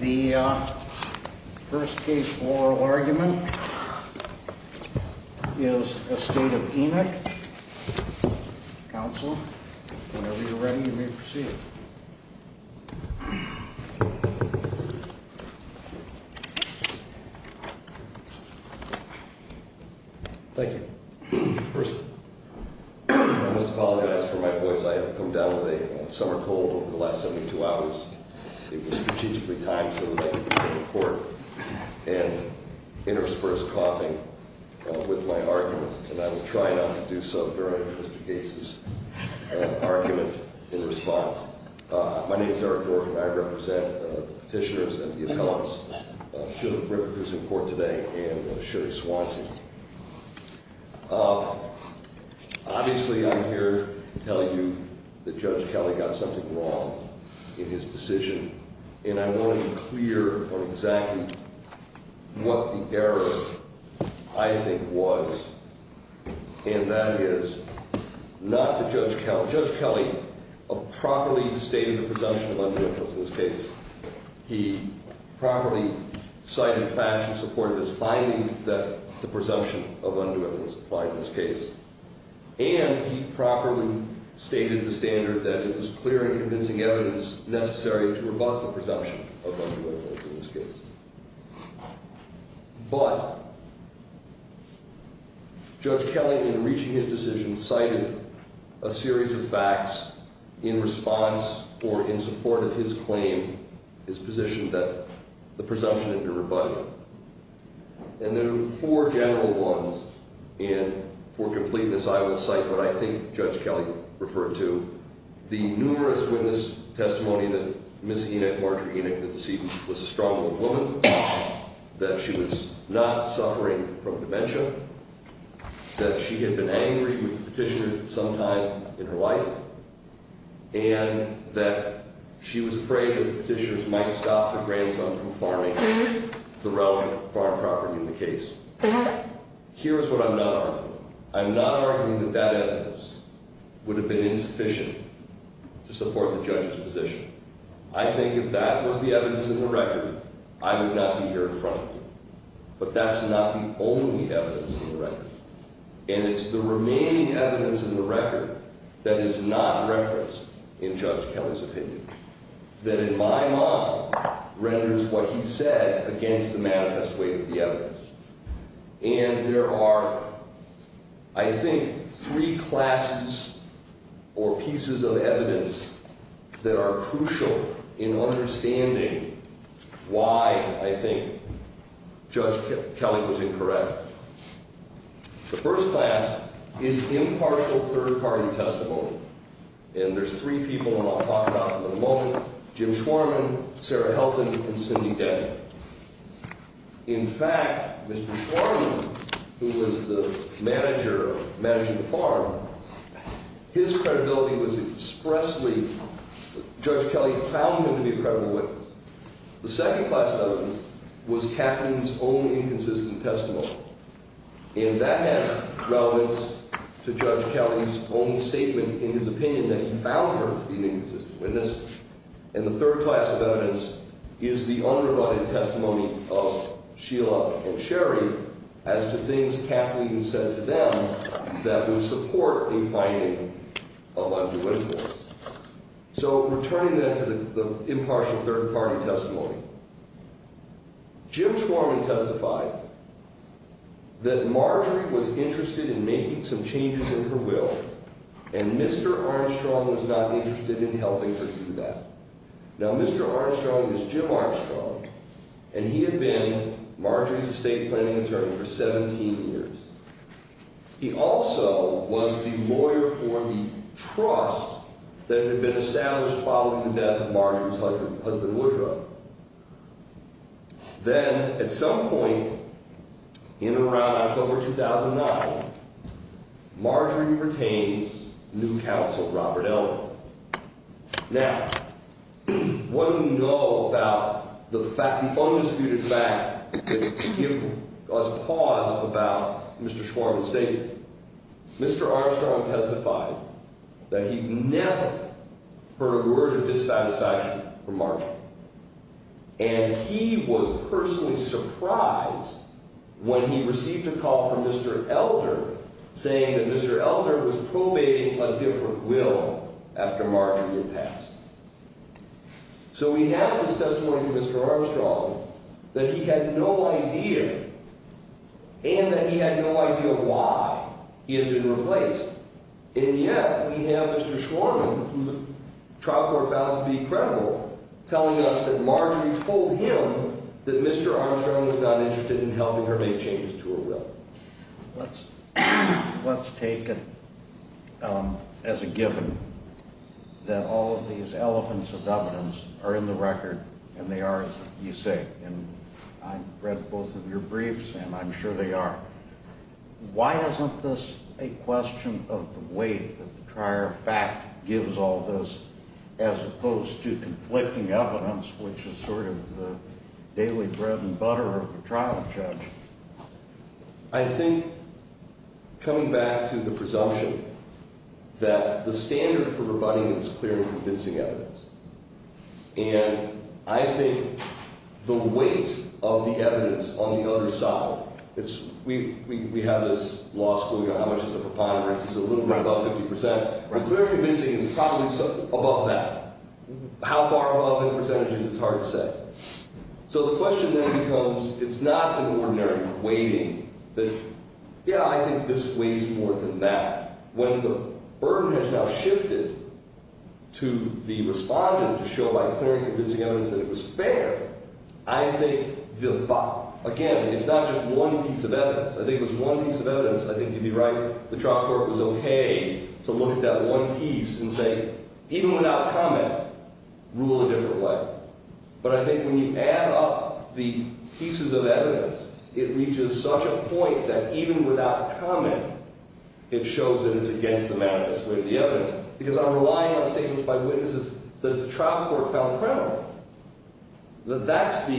The first case for oral argument is Estate of Enoch. Counsel, whenever you're ready, you may proceed. Thank you. First, I must apologize for my voice. I have come down with a summer cold over the last 72 hours. It was strategically timed so that I could be here in court and intersperse coughing with my argument, and I will try not to do so during this case's argument in response. My name is Eric Dorkin, and I represent petitioners and the appellants, Shirley Griffith, who's in court today, and Shirley Swanson. Obviously, I'm here to tell you that Judge Kelly got something wrong in his decision, and I want to be clear on exactly what the error, I think, was, and that is not that Judge Kelly properly stated the presumption of undue influence in this case. He properly cited facts in support of his finding that the presumption of undue influence applied in this case, and he properly stated the standard that it was clear and convincing evidence necessary to rebut the presumption of undue influence in this case. But Judge Kelly, in reaching his decision, cited a series of facts in response or in support of his claim, his position that the presumption had been rebutted. And there are four general ones, and for completeness, I will cite what I think Judge Kelly referred to. The numerous witness testimony that Ms. Enoch, Marjorie Enoch, the decedent, was a strong-willed woman, that she was not suffering from dementia, that she had been angry with the petitioners sometime in her life, and that she was afraid that the petitioners might stop the grandson from farming the relative farm property in the case. Here is what I'm not arguing. I'm not arguing that that evidence would have been insufficient to support the judge's position. I think if that was the evidence in the record, I would not be here in front of you. But that's not the only evidence in the record. And it's the remaining evidence in the record that is not referenced in Judge Kelly's opinion, that in my mind renders what he said against the manifest way of the evidence. And there are, I think, three classes or pieces of evidence that are crucial in understanding why I think Judge Kelly was incorrect. The first class is impartial third-party testimony. And there's three people whom I'll talk about in a moment, Jim Schwarman, Sarah Helton, and Cindy Daniel. In fact, Mr. Schwarman, who was the manager, managing the farm, his credibility was expressly, Judge Kelly found him to be a credible witness. The second class evidence was Katherine's own inconsistent testimony. And that has relevance to Judge Kelly's own statement in his opinion that he found her to be an inconsistent witness. And the third class of evidence is the underrunning testimony of Sheila and Sherry as to things Katherine even said to them that would support a finding of undue influence. So returning then to the impartial third-party testimony. Jim Schwarman testified that Marjorie was interested in making some changes in her will, and Mr. Armstrong was not interested in helping her do that. Now, Mr. Armstrong is Jim Armstrong, and he had been Marjorie's estate planning attorney for 17 years. He also was the lawyer for the trust that had been established following the death of Marjorie's husband, Woodrow. Then, at some point in around October 2009, Marjorie pertains to new counsel, Robert Elman. Now, what do we know about the undisputed facts that give us pause about Mr. Schwarman's statement? Mr. Armstrong testified that he never heard a word of dissatisfaction from Marjorie. And he was personally surprised when he received a call from Mr. Elder saying that Mr. Elder was probating a different will after Marjorie had passed. So we have this testimony from Mr. Armstrong that he had no idea, and that he had no idea why, he had been replaced. And yet, we have Mr. Schwarman, who the trial court found to be credible, telling us that Marjorie told him that Mr. Armstrong was not interested in helping her make changes to her will. Let's take it as a given that all of these elephants of evidence are in the record, and they are, as you say, and I've read both of your briefs, and I'm sure they are. Why isn't this a question of the weight that the prior fact gives all this as opposed to conflicting evidence, which is sort of the daily bread and butter of a trial judge? I think, coming back to the presumption, that the standard for rebutting is clear and convincing evidence. And I think the weight of the evidence on the other side, we have this law school, you know, how much is a preponderance? It's a little bit above 50%. And clear and convincing is probably above that. How far above in percentages, it's hard to say. So the question then becomes, it's not an ordinary weighting that, yeah, I think this weighs more than that. When the burden has now shifted to the respondent to show by clear and convincing evidence that it was fair, I think, again, it's not just one piece of evidence. I think it was one piece of evidence. I think you'd be right, the trial court was okay to look at that one piece and say, even without comment, rule a different way. But I think when you add up the pieces of evidence, it reaches such a point that even without comment, it shows that it's against the manifest way of the evidence. Because I'm relying on statements by witnesses that the trial court found credible. But that's the,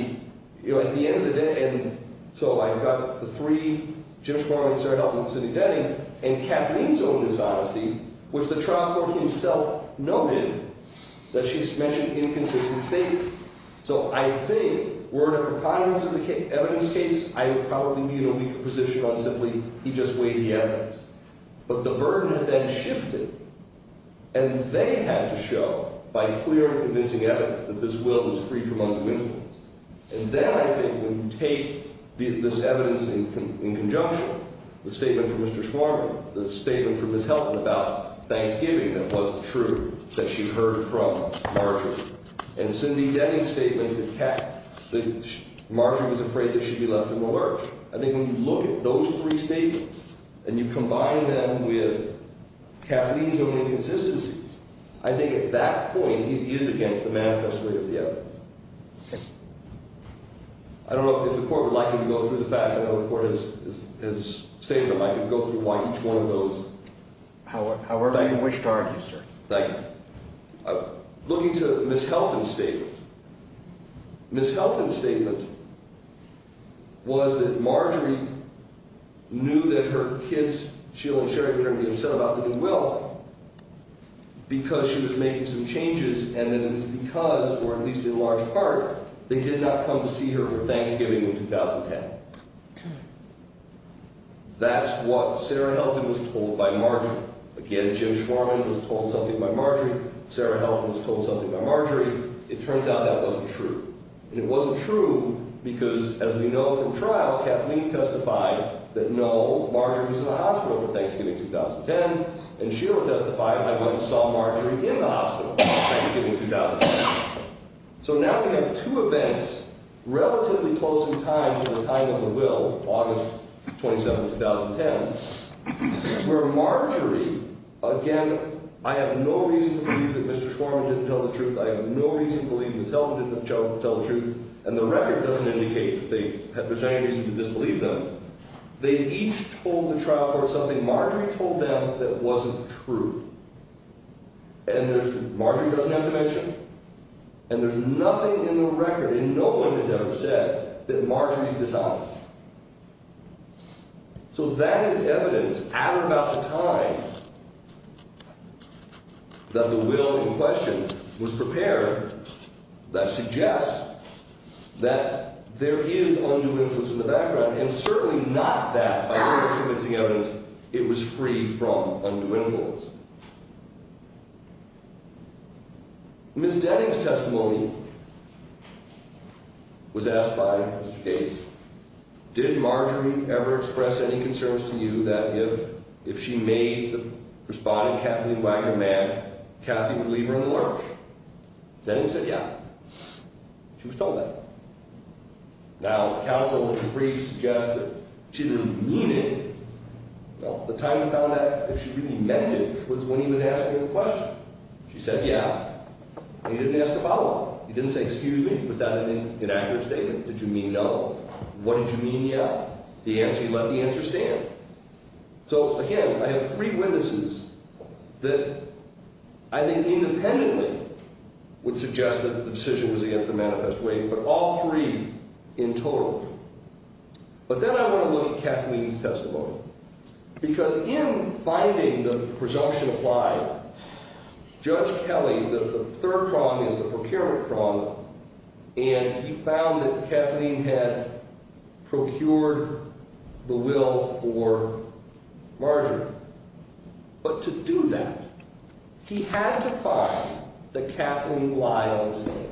you know, at the end of the day, and so I've got the three, Jim Schmoyer, Sarah Heltman, Cindy Denning, and Kathleen's own dishonesty, which the trial court himself noted that she's mentioned inconsistent statements. So I think, were it a preponderance of the evidence case, I would probably be in a weaker position on simply, he just weighed the evidence. But the burden had then shifted, and they had to show by clear and convincing evidence that this will was free from undue influence. And then I think when you take this evidence in conjunction, the statement from Mr. Schmoyer, the statement from Ms. Heltman about Thanksgiving, that wasn't true, that she heard from Marjorie. And Cindy Denning's statement that Marjorie was afraid that she'd be left in the lurch. I think when you look at those three statements, and you combine them with Kathleen's own inconsistencies, I think at that point, it is against the manifest way of the evidence. Okay. I don't know if the court would like me to go through the facts. I know the court has stated that I could go through each one of those. However you wish to argue, sir. Thank you. Looking to Ms. Heltman's statement. Ms. Heltman's statement was that Marjorie knew that her kids, Sheila and Sherry, were going to be upset about living well because she was making some changes, and that it was because, or at least in large part, they did not come to see her for Thanksgiving in 2010. That's what Sarah Heltman was told by Marjorie. Again, Jim Schwarman was told something by Marjorie. Sarah Heltman was told something by Marjorie. It turns out that wasn't true. And it wasn't true because, as we know from trial, Kathleen testified that no, Marjorie was in the hospital for Thanksgiving 2010, and Sheila testified that they saw Marjorie in the hospital for Thanksgiving 2010. So now we have two events relatively close in time to the time of the will, August 27, 2010, where Marjorie, again, I have no reason to believe that Mr. Schwarman didn't tell the truth. I have no reason to believe Ms. Heltman didn't tell the truth. And the record doesn't indicate that there's any reason to disbelieve them. They each told the trial court something Marjorie told them that wasn't true. And Marjorie doesn't have to mention it. And there's nothing in the record, and no one has ever said, that Marjorie is dishonest. So that is evidence at or about the time that the will in question was prepared that suggests that there is undue influence in the background, and certainly not that, by way of convincing evidence, it was free from undue influence. Ms. Denning's testimony was asked by Mr. Gates, did Marjorie ever express any concerns to you that if she made the responding Kathleen Wagner mad, Kathy would leave her in the lurch? Denning said, yeah. She was told that. Now, counsel would agree, suggest that she didn't mean it. Now, the time we found that if she really meant it was when he was asking her the question. She said, yeah. And he didn't ask about it. He didn't say, excuse me. Was that an inaccurate statement? Did you mean no? What did you mean, yeah? The answer, he let the answer stand. So again, I have three witnesses that I think independently would suggest that the decision was against the manifest way, but all three in total. But then I want to look at Kathleen's testimony. Because in finding the presumption applied, Judge Kelly, the third prong is the procurement prong, and he found that Kathleen had procured the will for Marjorie. But to do that, he had to find that Kathleen lied on the stand.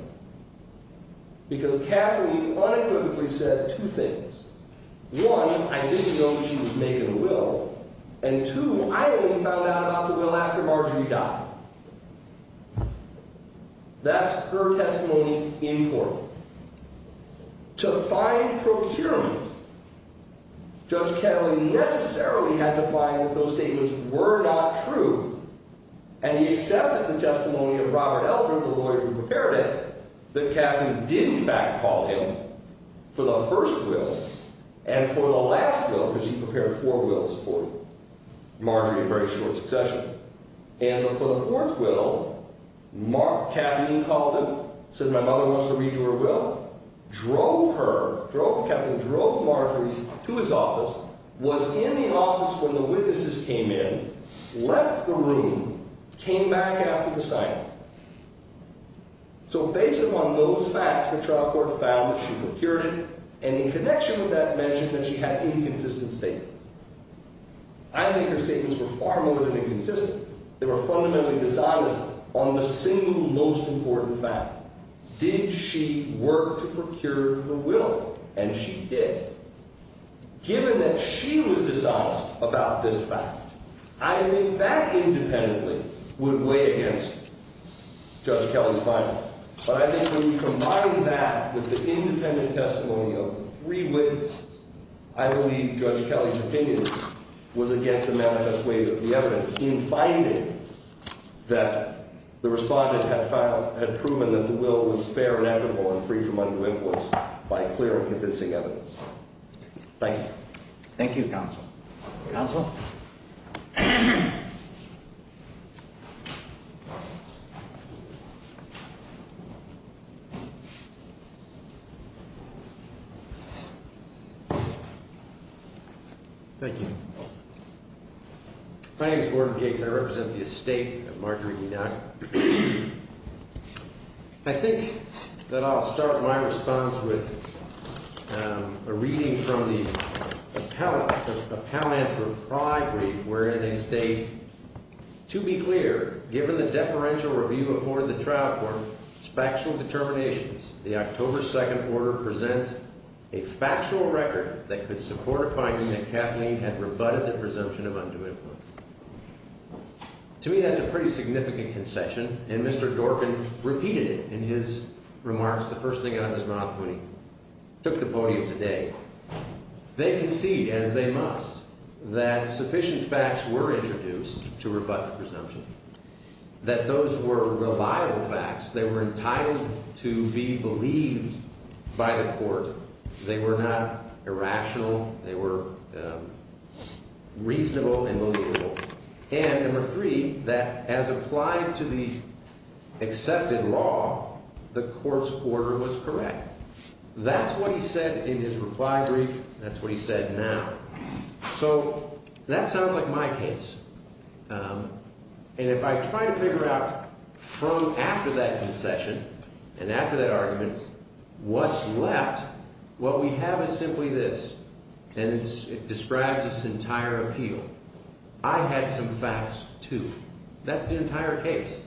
Because Kathleen unequivocally said two things. One, I didn't know she was making the will. And two, I only found out about the will after Marjorie died. That's her testimony in court. To find procurement, Judge Kelly necessarily had to find that those statements were not true. And he accepted the testimony of Robert Eldred, the lawyer who prepared it, that Kathleen did, in fact, call him for the first will and for the last will. Because he prepared four wills for Marjorie in very short succession. And for the fourth will, Kathleen called him, said my mother wants to read to her will, drove her, drove Kathleen, drove Marjorie to his office, was in the office when the witnesses came in, left the room, came back after the signing. So based upon those facts, the trial court found that she procured it, and in connection with that, mentioned that she had inconsistent statements. I think her statements were far more than inconsistent. They were fundamentally dishonest on the single most important fact. Did she work to procure her will? And she did. Given that she was dishonest about this fact, I think that independently would weigh against Judge Kelly's final. But I think when you combine that with the independent testimony of three witnesses, I believe Judge Kelly's opinion was against the manifest way of the evidence in finding that the respondent had found, had proven that the will was fair and equitable and free from undue influence by clear and convincing evidence. Thank you. Thank you, Counsel. Counsel? Thank you. My name is Gordon Gates. I represent the estate of Marjorie Enoch. I think that I'll start my response with a reading from the appellant's reply brief, wherein they state, to be clear, given the deferential review afforded the trial court, factual determinations, the October 2nd order presents a factual record that could support a finding that Kathleen had rebutted the presumption of undue influence. To me, that's a pretty significant concession, and Mr. Dorkin repeated it in his remarks the first thing out of his mouth when he took the podium today. They concede, as they must, that sufficient facts were introduced to rebut the presumption, that those were reliable facts. They were entitled to be believed by the court. They were not irrational. They were reasonable and believable. And number three, that as applied to the accepted law, the court's order was correct. That's what he said in his reply brief. That's what he said now. So that sounds like my case. And if I try to figure out from after that concession and after that argument what's left, what we have is simply this, and it describes its entire appeal. I had some facts, too. That's the entire case.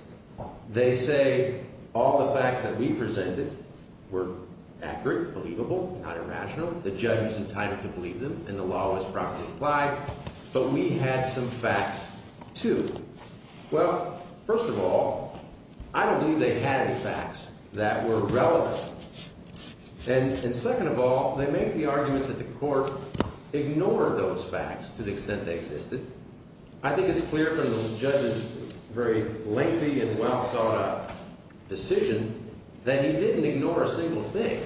They say all the facts that we presented were accurate, believable, not irrational. The judge was entitled to believe them, and the law was properly applied. But we had some facts, too. Well, first of all, I don't believe they had any facts that were relevant. And second of all, they make the argument that the court ignored those facts to the extent they existed. I think it's clear from the judge's very lengthy and well-thought-out decision that he didn't ignore a single thing.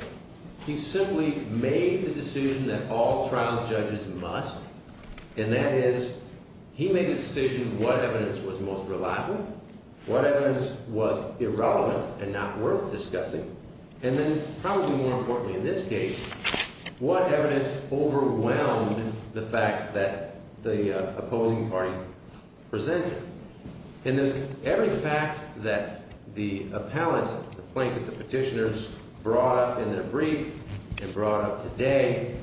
He simply made the decision that all trial judges must, and that is he made the decision what evidence was most reliable, what evidence was irrelevant and not worth discussing, and then probably more importantly in this case, what evidence overwhelmed the facts that the opposing party presented. And then every fact that the appellant, the plaintiff, the petitioners brought up in their brief and brought up today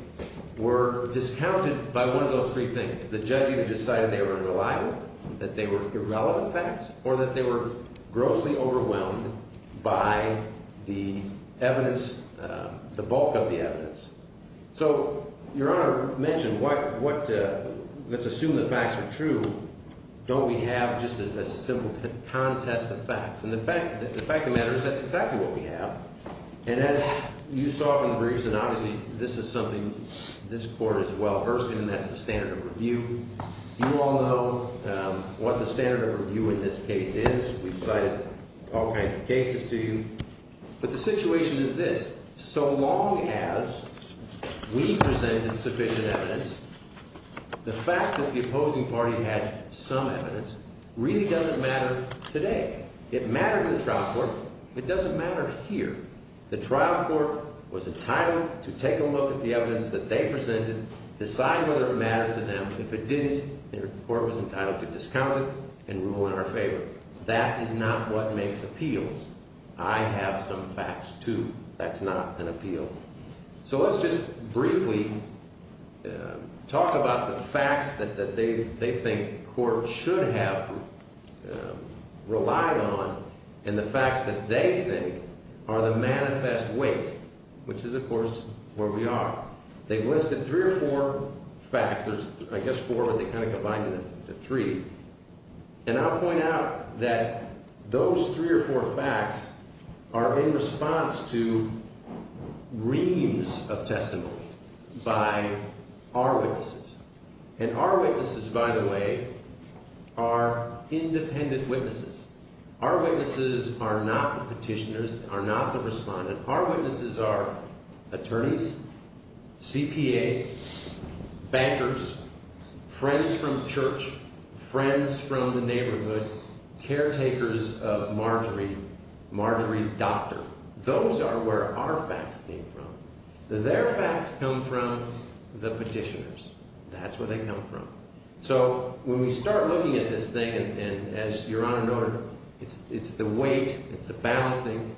were discounted by one of those three things. The judge either decided they were unreliable, that they were irrelevant facts, or that they were grossly overwhelmed by the evidence, the bulk of the evidence. So Your Honor mentioned let's assume the facts are true. Don't we have just a simple contest of facts? And the fact of the matter is that's exactly what we have. And as you saw from the briefs, and obviously this is something this court is well-versed in, and that's the standard of review. You all know what the standard of review in this case is. We've cited all kinds of cases to you. But the situation is this. So long as we presented sufficient evidence, the fact that the opposing party had some evidence really doesn't matter today. It mattered in the trial court. It doesn't matter here. The trial court was entitled to take a look at the evidence that they presented, decide whether it mattered to them. If it didn't, the court was entitled to discount it and rule in our favor. That is not what makes appeals. I have some facts, too. That's not an appeal. So let's just briefly talk about the facts that they think courts should have relied on and the facts that they think are the manifest weight, which is, of course, where we are. They've listed three or four facts. There's, I guess, four, but they kind of combine into three. And I'll point out that those three or four facts are in response to reams of testimony by our witnesses. And our witnesses, by the way, are independent witnesses. Our witnesses are not the petitioners, are not the respondent. Our witnesses are attorneys, CPAs, bankers, friends from church, friends from the neighborhood, caretakers of Marjorie, Marjorie's doctor. Those are where our facts came from. Their facts come from the petitioners. That's where they come from. So when we start looking at this thing, and as Your Honor noted, it's the weight, it's the balancing.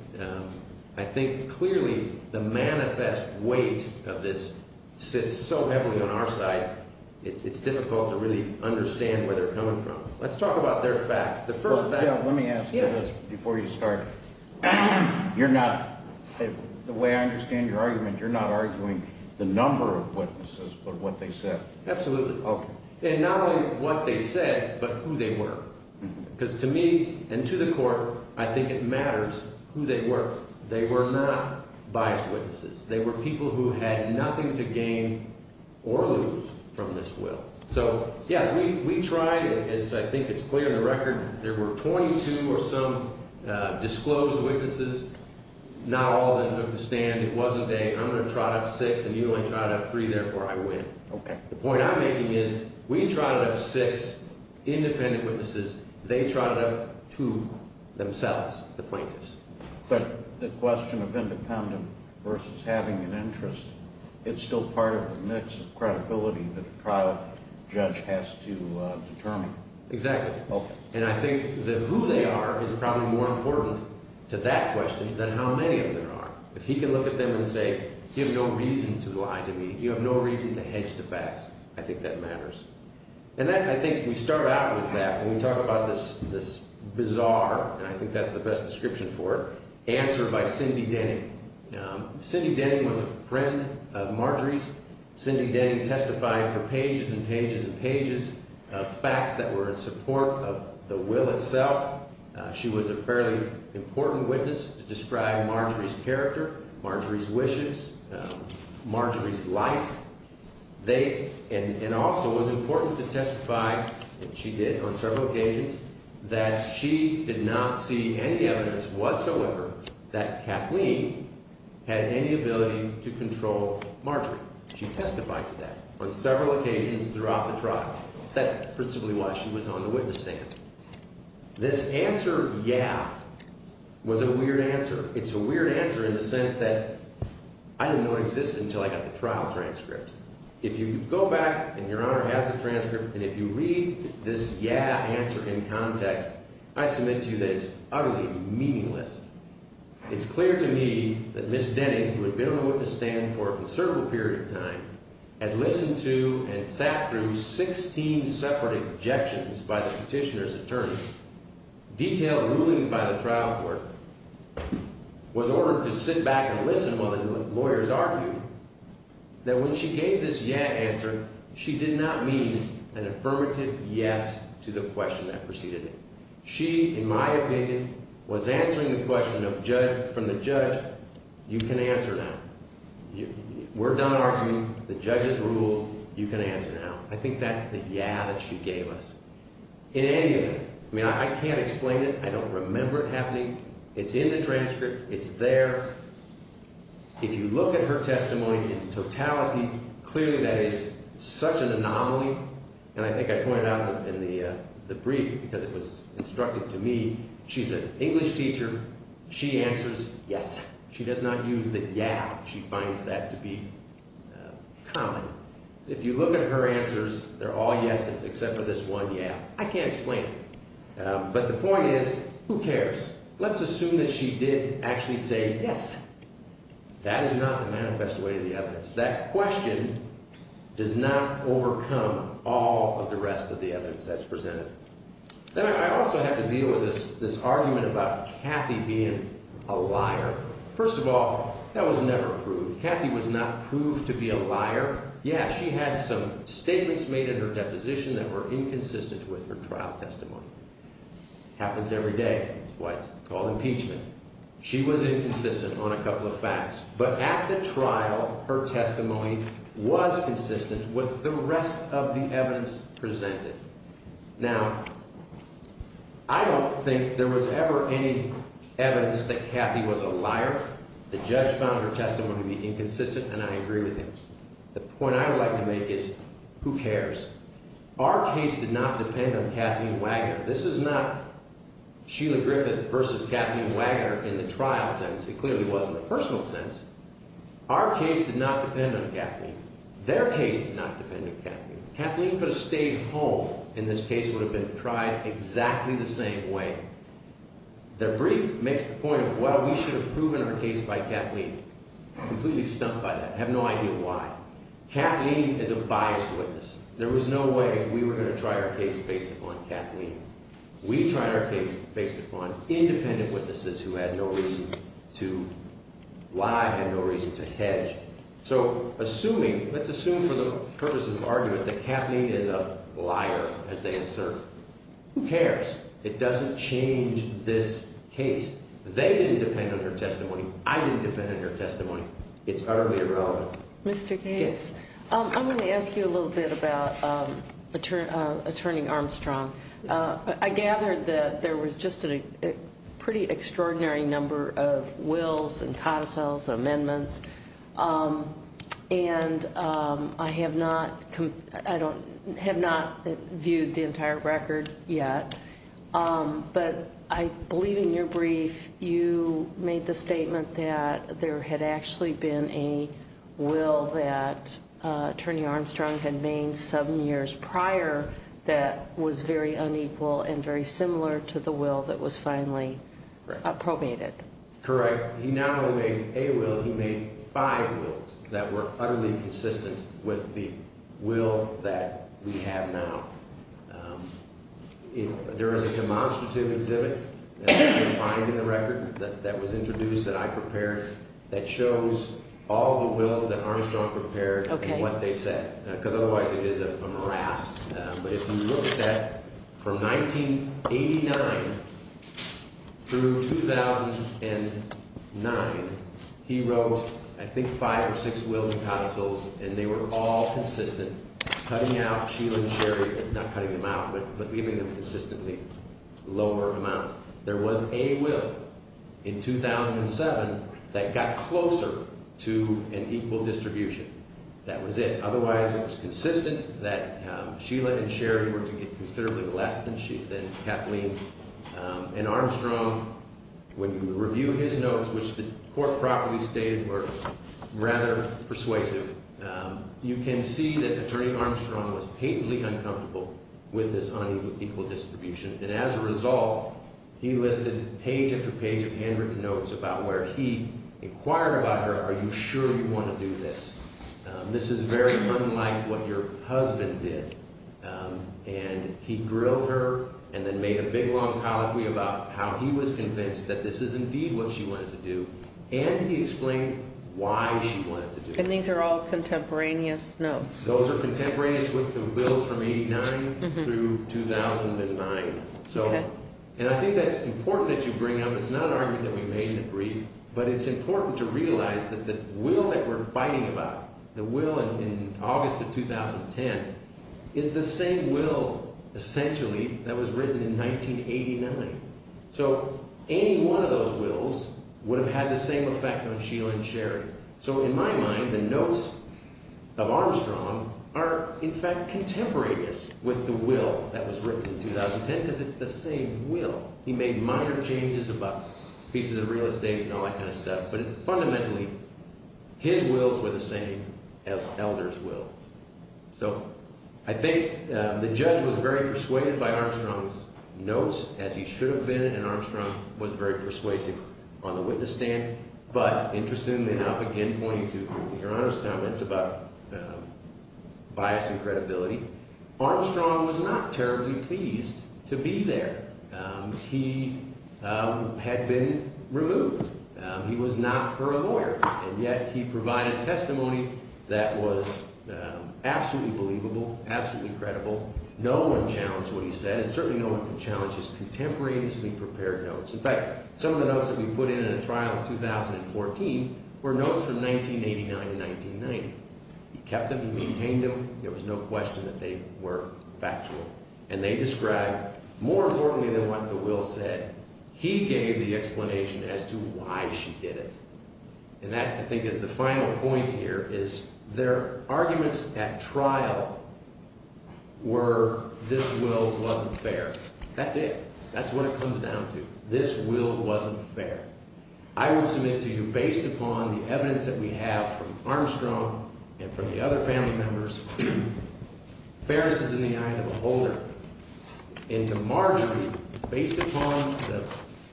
I think clearly the manifest weight of this sits so heavily on our side, it's difficult to really understand where they're coming from. Let's talk about their facts. The first fact. Let me ask you this before you start. You're not, the way I understand your argument, you're not arguing the number of witnesses but what they said. Absolutely. Okay. And not only what they said but who they were. Because to me and to the court, I think it matters who they were. They were not biased witnesses. They were people who had nothing to gain or lose from this will. So, yes, we tried, as I think it's clear in the record, there were 22 or some disclosed witnesses. Not all of them took the stand. It wasn't a I'm going to trot up six and you only trot up three, therefore I win. Okay. The point I'm making is we trotted up six independent witnesses, they trotted up two themselves, the plaintiffs. But the question of independent versus having an interest, it's still part of the mix of credibility that a trial judge has to determine. Exactly. Okay. And I think that who they are is probably more important to that question than how many of them there are. If he can look at them and say you have no reason to lie to me, you have no reason to hedge the facts, I think that matters. And I think we start out with that when we talk about this bizarre, and I think that's the best description for it, answer by Cindy Denning. Cindy Denning was a friend of Marjorie's. Cindy Denning testified for pages and pages and pages of facts that were in support of the will itself. She was a fairly important witness to describe Marjorie's character, Marjorie's wishes, Marjorie's life. And also it was important to testify, and she did on several occasions, that she did not see any evidence whatsoever that Kathleen had any ability to control Marjorie. She testified to that on several occasions throughout the trial. That's principally why she was on the witness stand. This answer, yeah, was a weird answer. It's a weird answer in the sense that I didn't know it existed until I got the trial transcript. If you go back and Your Honor has the transcript, and if you read this yeah answer in context, I submit to you that it's utterly meaningless. It's clear to me that Ms. Denning, who had been on the witness stand for a considerable period of time, had listened to and sat through 16 separate objections by the petitioner's attorney. Detailed ruling by the trial court was ordered to sit back and listen while the lawyers argued that when she gave this yeah answer, she did not mean an affirmative yes to the question that preceded it. She, in my opinion, was answering the question from the judge, you can answer now. We're done arguing. The judge has ruled. You can answer now. I think that's the yeah that she gave us. In any event, I mean I can't explain it. I don't remember it happening. It's in the transcript. It's there. If you look at her testimony in totality, clearly that is such an anomaly. And I think I pointed out in the brief, because it was instructed to me, she's an English teacher. She answers yes. She does not use the yeah. She finds that to be common. If you look at her answers, they're all yeses except for this one yeah. I can't explain it. But the point is, who cares? Let's assume that she did actually say yes. That is not the manifest way to the evidence. That question does not overcome all of the rest of the evidence that's presented. Then I also have to deal with this argument about Kathy being a liar. First of all, that was never approved. Kathy was not proved to be a liar. Yeah, she had some statements made in her deposition that were inconsistent with her trial testimony. Happens every day. That's why it's called impeachment. She was inconsistent on a couple of facts. But at the trial, her testimony was consistent with the rest of the evidence presented. Now, I don't think there was ever any evidence that Kathy was a liar. The judge found her testimony to be inconsistent, and I agree with him. The point I would like to make is, who cares? Our case did not depend on Kathy and Wagner. This is not Sheila Griffith versus Kathy and Wagner in the trial sense. It clearly was in the personal sense. Our case did not depend on Kathleen. Their case did not depend on Kathleen. Kathleen could have stayed home, and this case would have been tried exactly the same way. Their brief makes the point of, well, we should have proven our case by Kathleen. I'm completely stumped by that. I have no idea why. Kathleen is a biased witness. There was no way we were going to try our case based upon Kathleen. We tried our case based upon independent witnesses who had no reason to lie, had no reason to hedge. So assuming, let's assume for the purposes of argument that Kathleen is a liar, as they assert, who cares? It doesn't change this case. They didn't depend on her testimony. I didn't depend on her testimony. It's utterly irrelevant. Mr. Gates, I'm going to ask you a little bit about Attorney Armstrong. I gathered that there was just a pretty extraordinary number of wills and codicils, amendments, and I have not viewed the entire record yet. But I believe in your brief you made the statement that there had actually been a will that Attorney Armstrong had made seven years prior that was very unequal and very similar to the will that was finally probated. Correct. He not only made a will, he made five wills that were utterly consistent with the will that we have now. There is a demonstrative exhibit that you can find in the record that was introduced that I prepared that shows all the wills that Armstrong prepared and what they said, because otherwise it is a morass. But if you look at that, from 1989 through 2009, he wrote, I think, five or six wills and codicils, and they were all consistent, cutting out Sheila and Sherry, not cutting them out, but leaving them consistently lower amounts. There was a will in 2007 that got closer to an equal distribution. That was it. Otherwise, it was consistent that Sheila and Sherry were to get considerably less than Kathleen. And Armstrong, when you review his notes, which the court properly stated were rather persuasive, you can see that Attorney Armstrong was patently uncomfortable with this unequal distribution. And as a result, he listed page after page of handwritten notes about where he inquired about her, are you sure you want to do this? This is very unlike what your husband did. And he grilled her and then made a big, long colloquy about how he was convinced that this is indeed what she wanted to do, and he explained why she wanted to do it. And these are all contemporaneous notes? Those are contemporaneous with the wills from 1989 through 2009. And I think that's important that you bring up. It's not an argument that we made in the brief, but it's important to realize that the will that we're fighting about, the will in August of 2010, is the same will, essentially, that was written in 1989. So any one of those wills would have had the same effect on Sheila and Sherry. So in my mind, the notes of Armstrong are, in fact, contemporaneous with the will that was written in 2010 because it's the same will. He made minor changes about pieces of real estate and all that kind of stuff. But fundamentally, his wills were the same as Elder's wills. So I think the judge was very persuaded by Armstrong's notes, as he should have been, and Armstrong was very persuasive on the witness stand. But interestingly enough, again pointing to Your Honor's comments about bias and credibility, Armstrong was not terribly pleased to be there. He had been removed. He was not her lawyer, and yet he provided testimony that was absolutely believable, absolutely credible. No one challenged what he said, and certainly no one can challenge his contemporaneously prepared notes. In fact, some of the notes that we put in in a trial in 2014 were notes from 1989 to 1990. He kept them. He maintained them. There was no question that they were factual. And they described more importantly than what the will said, he gave the explanation as to why she did it. And that, I think, is the final point here is their arguments at trial were this will wasn't fair. That's it. That's what it comes down to. This will wasn't fair. I would submit to you, based upon the evidence that we have from Armstrong and from the other family members, fairness is in the eye of the beholder. And to Marjorie, based upon the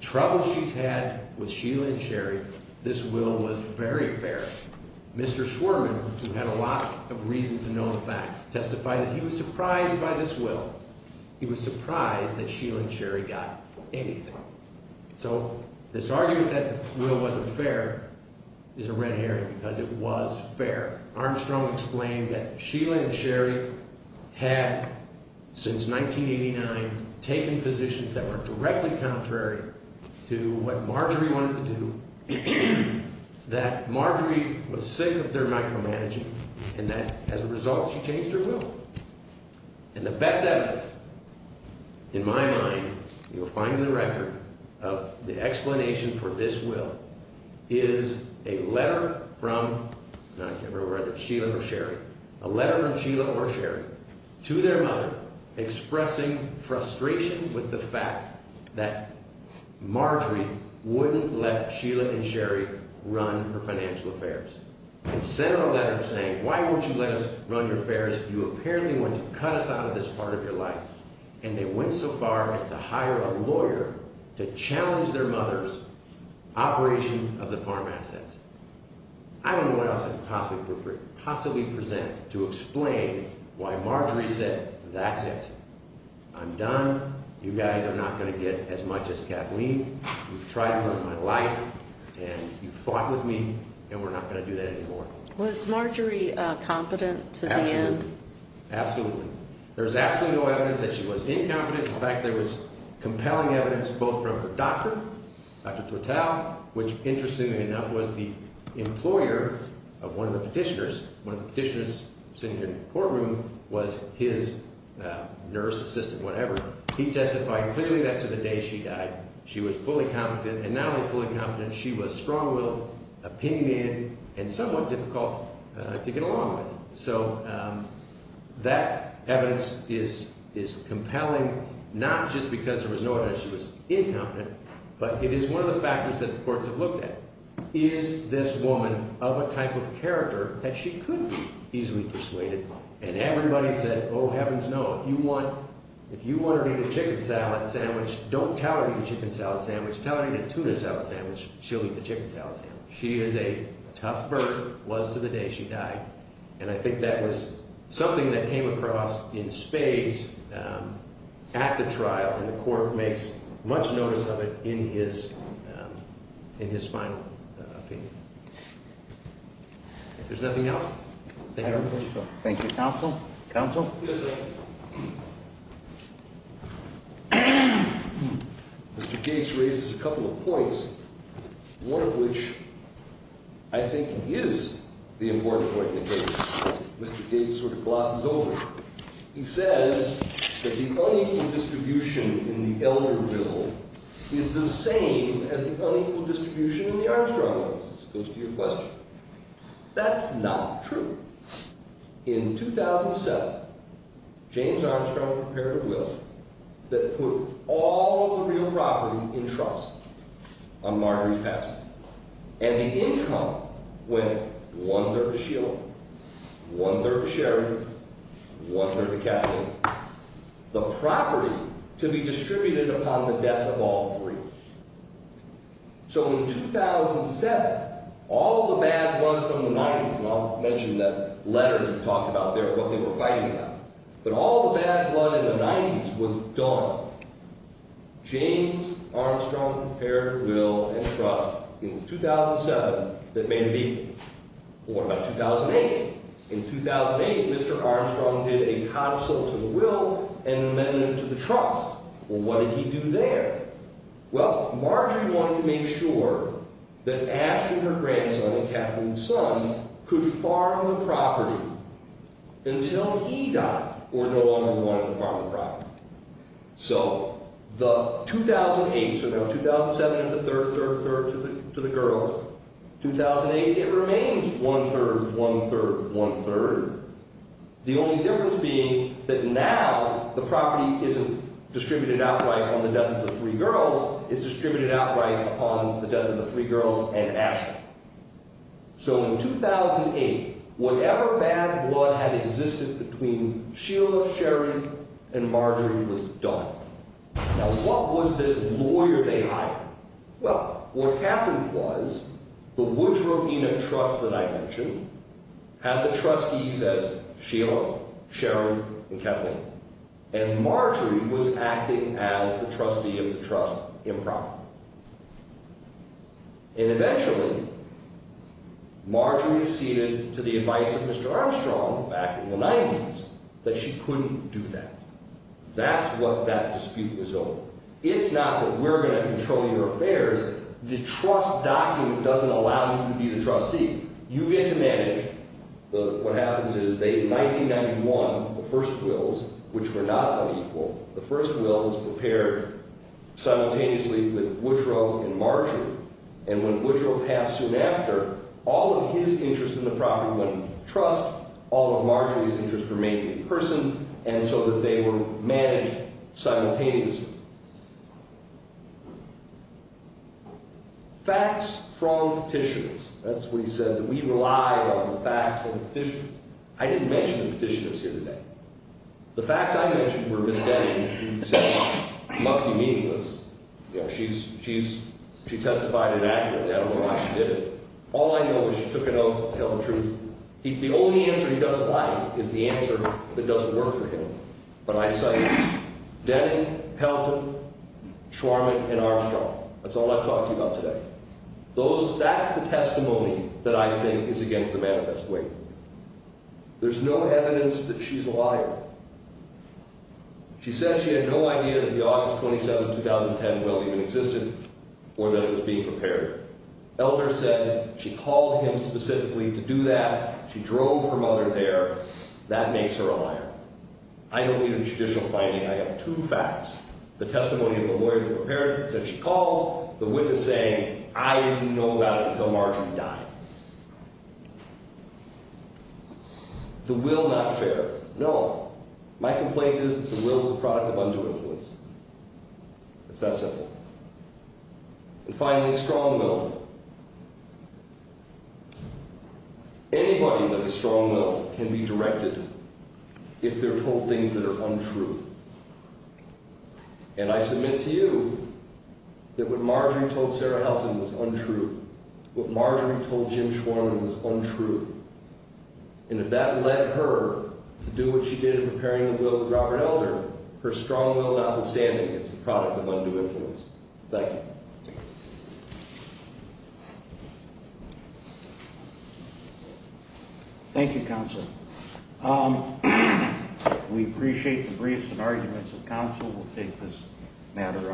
trouble she's had with Sheila and Sherry, this will was very fair. Mr. Schwerman, who had a lot of reason to know the facts, testified that he was surprised by this will. He was surprised that Sheila and Sherry got anything. So this argument that the will wasn't fair is a red herring because it was fair. Armstrong explained that Sheila and Sherry had, since 1989, taken physicians that were directly contrary to what Marjorie wanted to do, that Marjorie was sick of their micromanaging, and that, as a result, she changed her will. And the best evidence, in my mind, you'll find in the record of the explanation for this will, is a letter from Sheila or Sherry to their mother expressing frustration with the fact that Marjorie wouldn't let Sheila and Sherry run her financial affairs. And sent her a letter saying, why won't you let us run your affairs? You apparently want to cut us out of this part of your life. And they went so far as to hire a lawyer to challenge their mother's operation of the farm assets. I don't know what else I could possibly present to explain why Marjorie said, that's it. I'm done. You guys are not going to get as much as Kathleen. You've tried to ruin my life, and you've fought with me, and we're not going to do that anymore. Was Marjorie competent to the end? Absolutely. Absolutely. There's absolutely no evidence that she was incompetent. In fact, there was compelling evidence both from her doctor, Dr. Tortell, which, interestingly enough, was the employer of one of the petitioners. One of the petitioners sitting in the courtroom was his nurse assistant, whatever. He testified clearly that to the day she died, she was fully competent. And not only fully competent, she was strong-willed, opinionated, and somewhat difficult to get along with. So that evidence is compelling, not just because there was no evidence that she was incompetent. But it is one of the factors that the courts have looked at. Is this woman of a type of character that she could be easily persuaded by? And everybody said, oh, heavens no. If you want her to eat a chicken salad sandwich, don't tell her to eat a chicken salad sandwich. Tell her to eat a tuna salad sandwich. She'll eat the chicken salad sandwich. She is a tough bird, was to the day she died. And I think that was something that came across in spades at the trial. And the court makes much notice of it in his final opinion. If there's nothing else, thank you. Thank you, counsel. Counsel? Yes, sir. Mr. Gates raises a couple of points, one of which I think is the important point in the case. Mr. Gates sort of glosses over it. He says that the unequal distribution in the elder bill is the same as the unequal distribution in the arms trial. This goes to your question. That's not true. In 2007, James Armstrong prepared a will that put all of the real property in trust on Marjory's Pass. And the income went one-third to Sheila, one-third to Sherry, one-third to Kathleen. The property to be distributed upon the death of all three. So in 2007, all of the bad blood from the 90s, and I'll mention that letter that talked about what they were fighting about, but all of the bad blood in the 90s was done. James Armstrong prepared a will and trust in 2007 that made a deal. What about 2008? In 2008, Mr. Armstrong did a consulting will and amended it to the trust. Well, what did he do there? Well, Marjory wanted to make sure that Ashley, her grandson, and Kathleen's son could farm the property until he died or no longer wanted to farm the property. So the 2008, so now 2007 is a third, third, third to the girls. 2008, it remains one-third, one-third, one-third. The only difference being that now the property isn't distributed outright on the death of the three girls. It's distributed outright upon the death of the three girls and Ashley. So in 2008, whatever bad blood had existed between Sheila, Sherry, and Marjory was done. Now, what was this lawyer they hired? Well, what happened was the Woodrow Enoch Trust that I mentioned had the trustees as Sheila, Sherry, and Kathleen, and Marjory was acting as the trustee of the trust improperly. And eventually, Marjory ceded to the advice of Mr. Armstrong back in the 90s that she couldn't do that. That's what that dispute was over. It's not that we're going to control your affairs. The trust document doesn't allow you to be the trustee. You get to manage. What happens is they, in 1991, the first wills, which were not unequal, the first will was prepared simultaneously with Woodrow and Marjory. And when Woodrow passed soon after, all of his interest in the property went to the trust. All of Marjory's interests were made in person, and so that they were managed simultaneously. Facts from petitioners. That's what he said, that we rely on the facts of the petition. I didn't mention the petitioners here today. The facts I mentioned were Miss Denny, who said it must be meaningless. You know, she testified inaccurately. I don't know why she did it. All I know is she took an oath to tell the truth. The only answer he doesn't like is the answer that doesn't work for him. But I cite Denny, Pelton, Schwarman, and Armstrong. That's all I've talked to you about today. That's the testimony that I think is against the manifest way. There's no evidence that she's a liar. She said she had no idea that the August 27, 2010 will even existed or that it was being prepared. Elder said she called him specifically to do that. She drove her mother there. That makes her a liar. I don't need a judicial finding. I have two facts. The testimony of the lawyer that prepared it said she called the witness saying, I didn't know about it until Marjory died. The will not fair. No. My complaint is that the will is the product of undue influence. It's that simple. And finally, strong will. Anybody with a strong will can be directed if they're told things that are untrue. And I submit to you that what Marjory told Sarah Helton was untrue. What Marjory told Jim Schwarman was untrue. And if that led her to do what she did in preparing the will with Robert Elder, her strong will not be standing. It's the product of undue influence. Thank you. Thank you, counsel. We appreciate the briefs and arguments of counsel. We'll take this matter under advisement.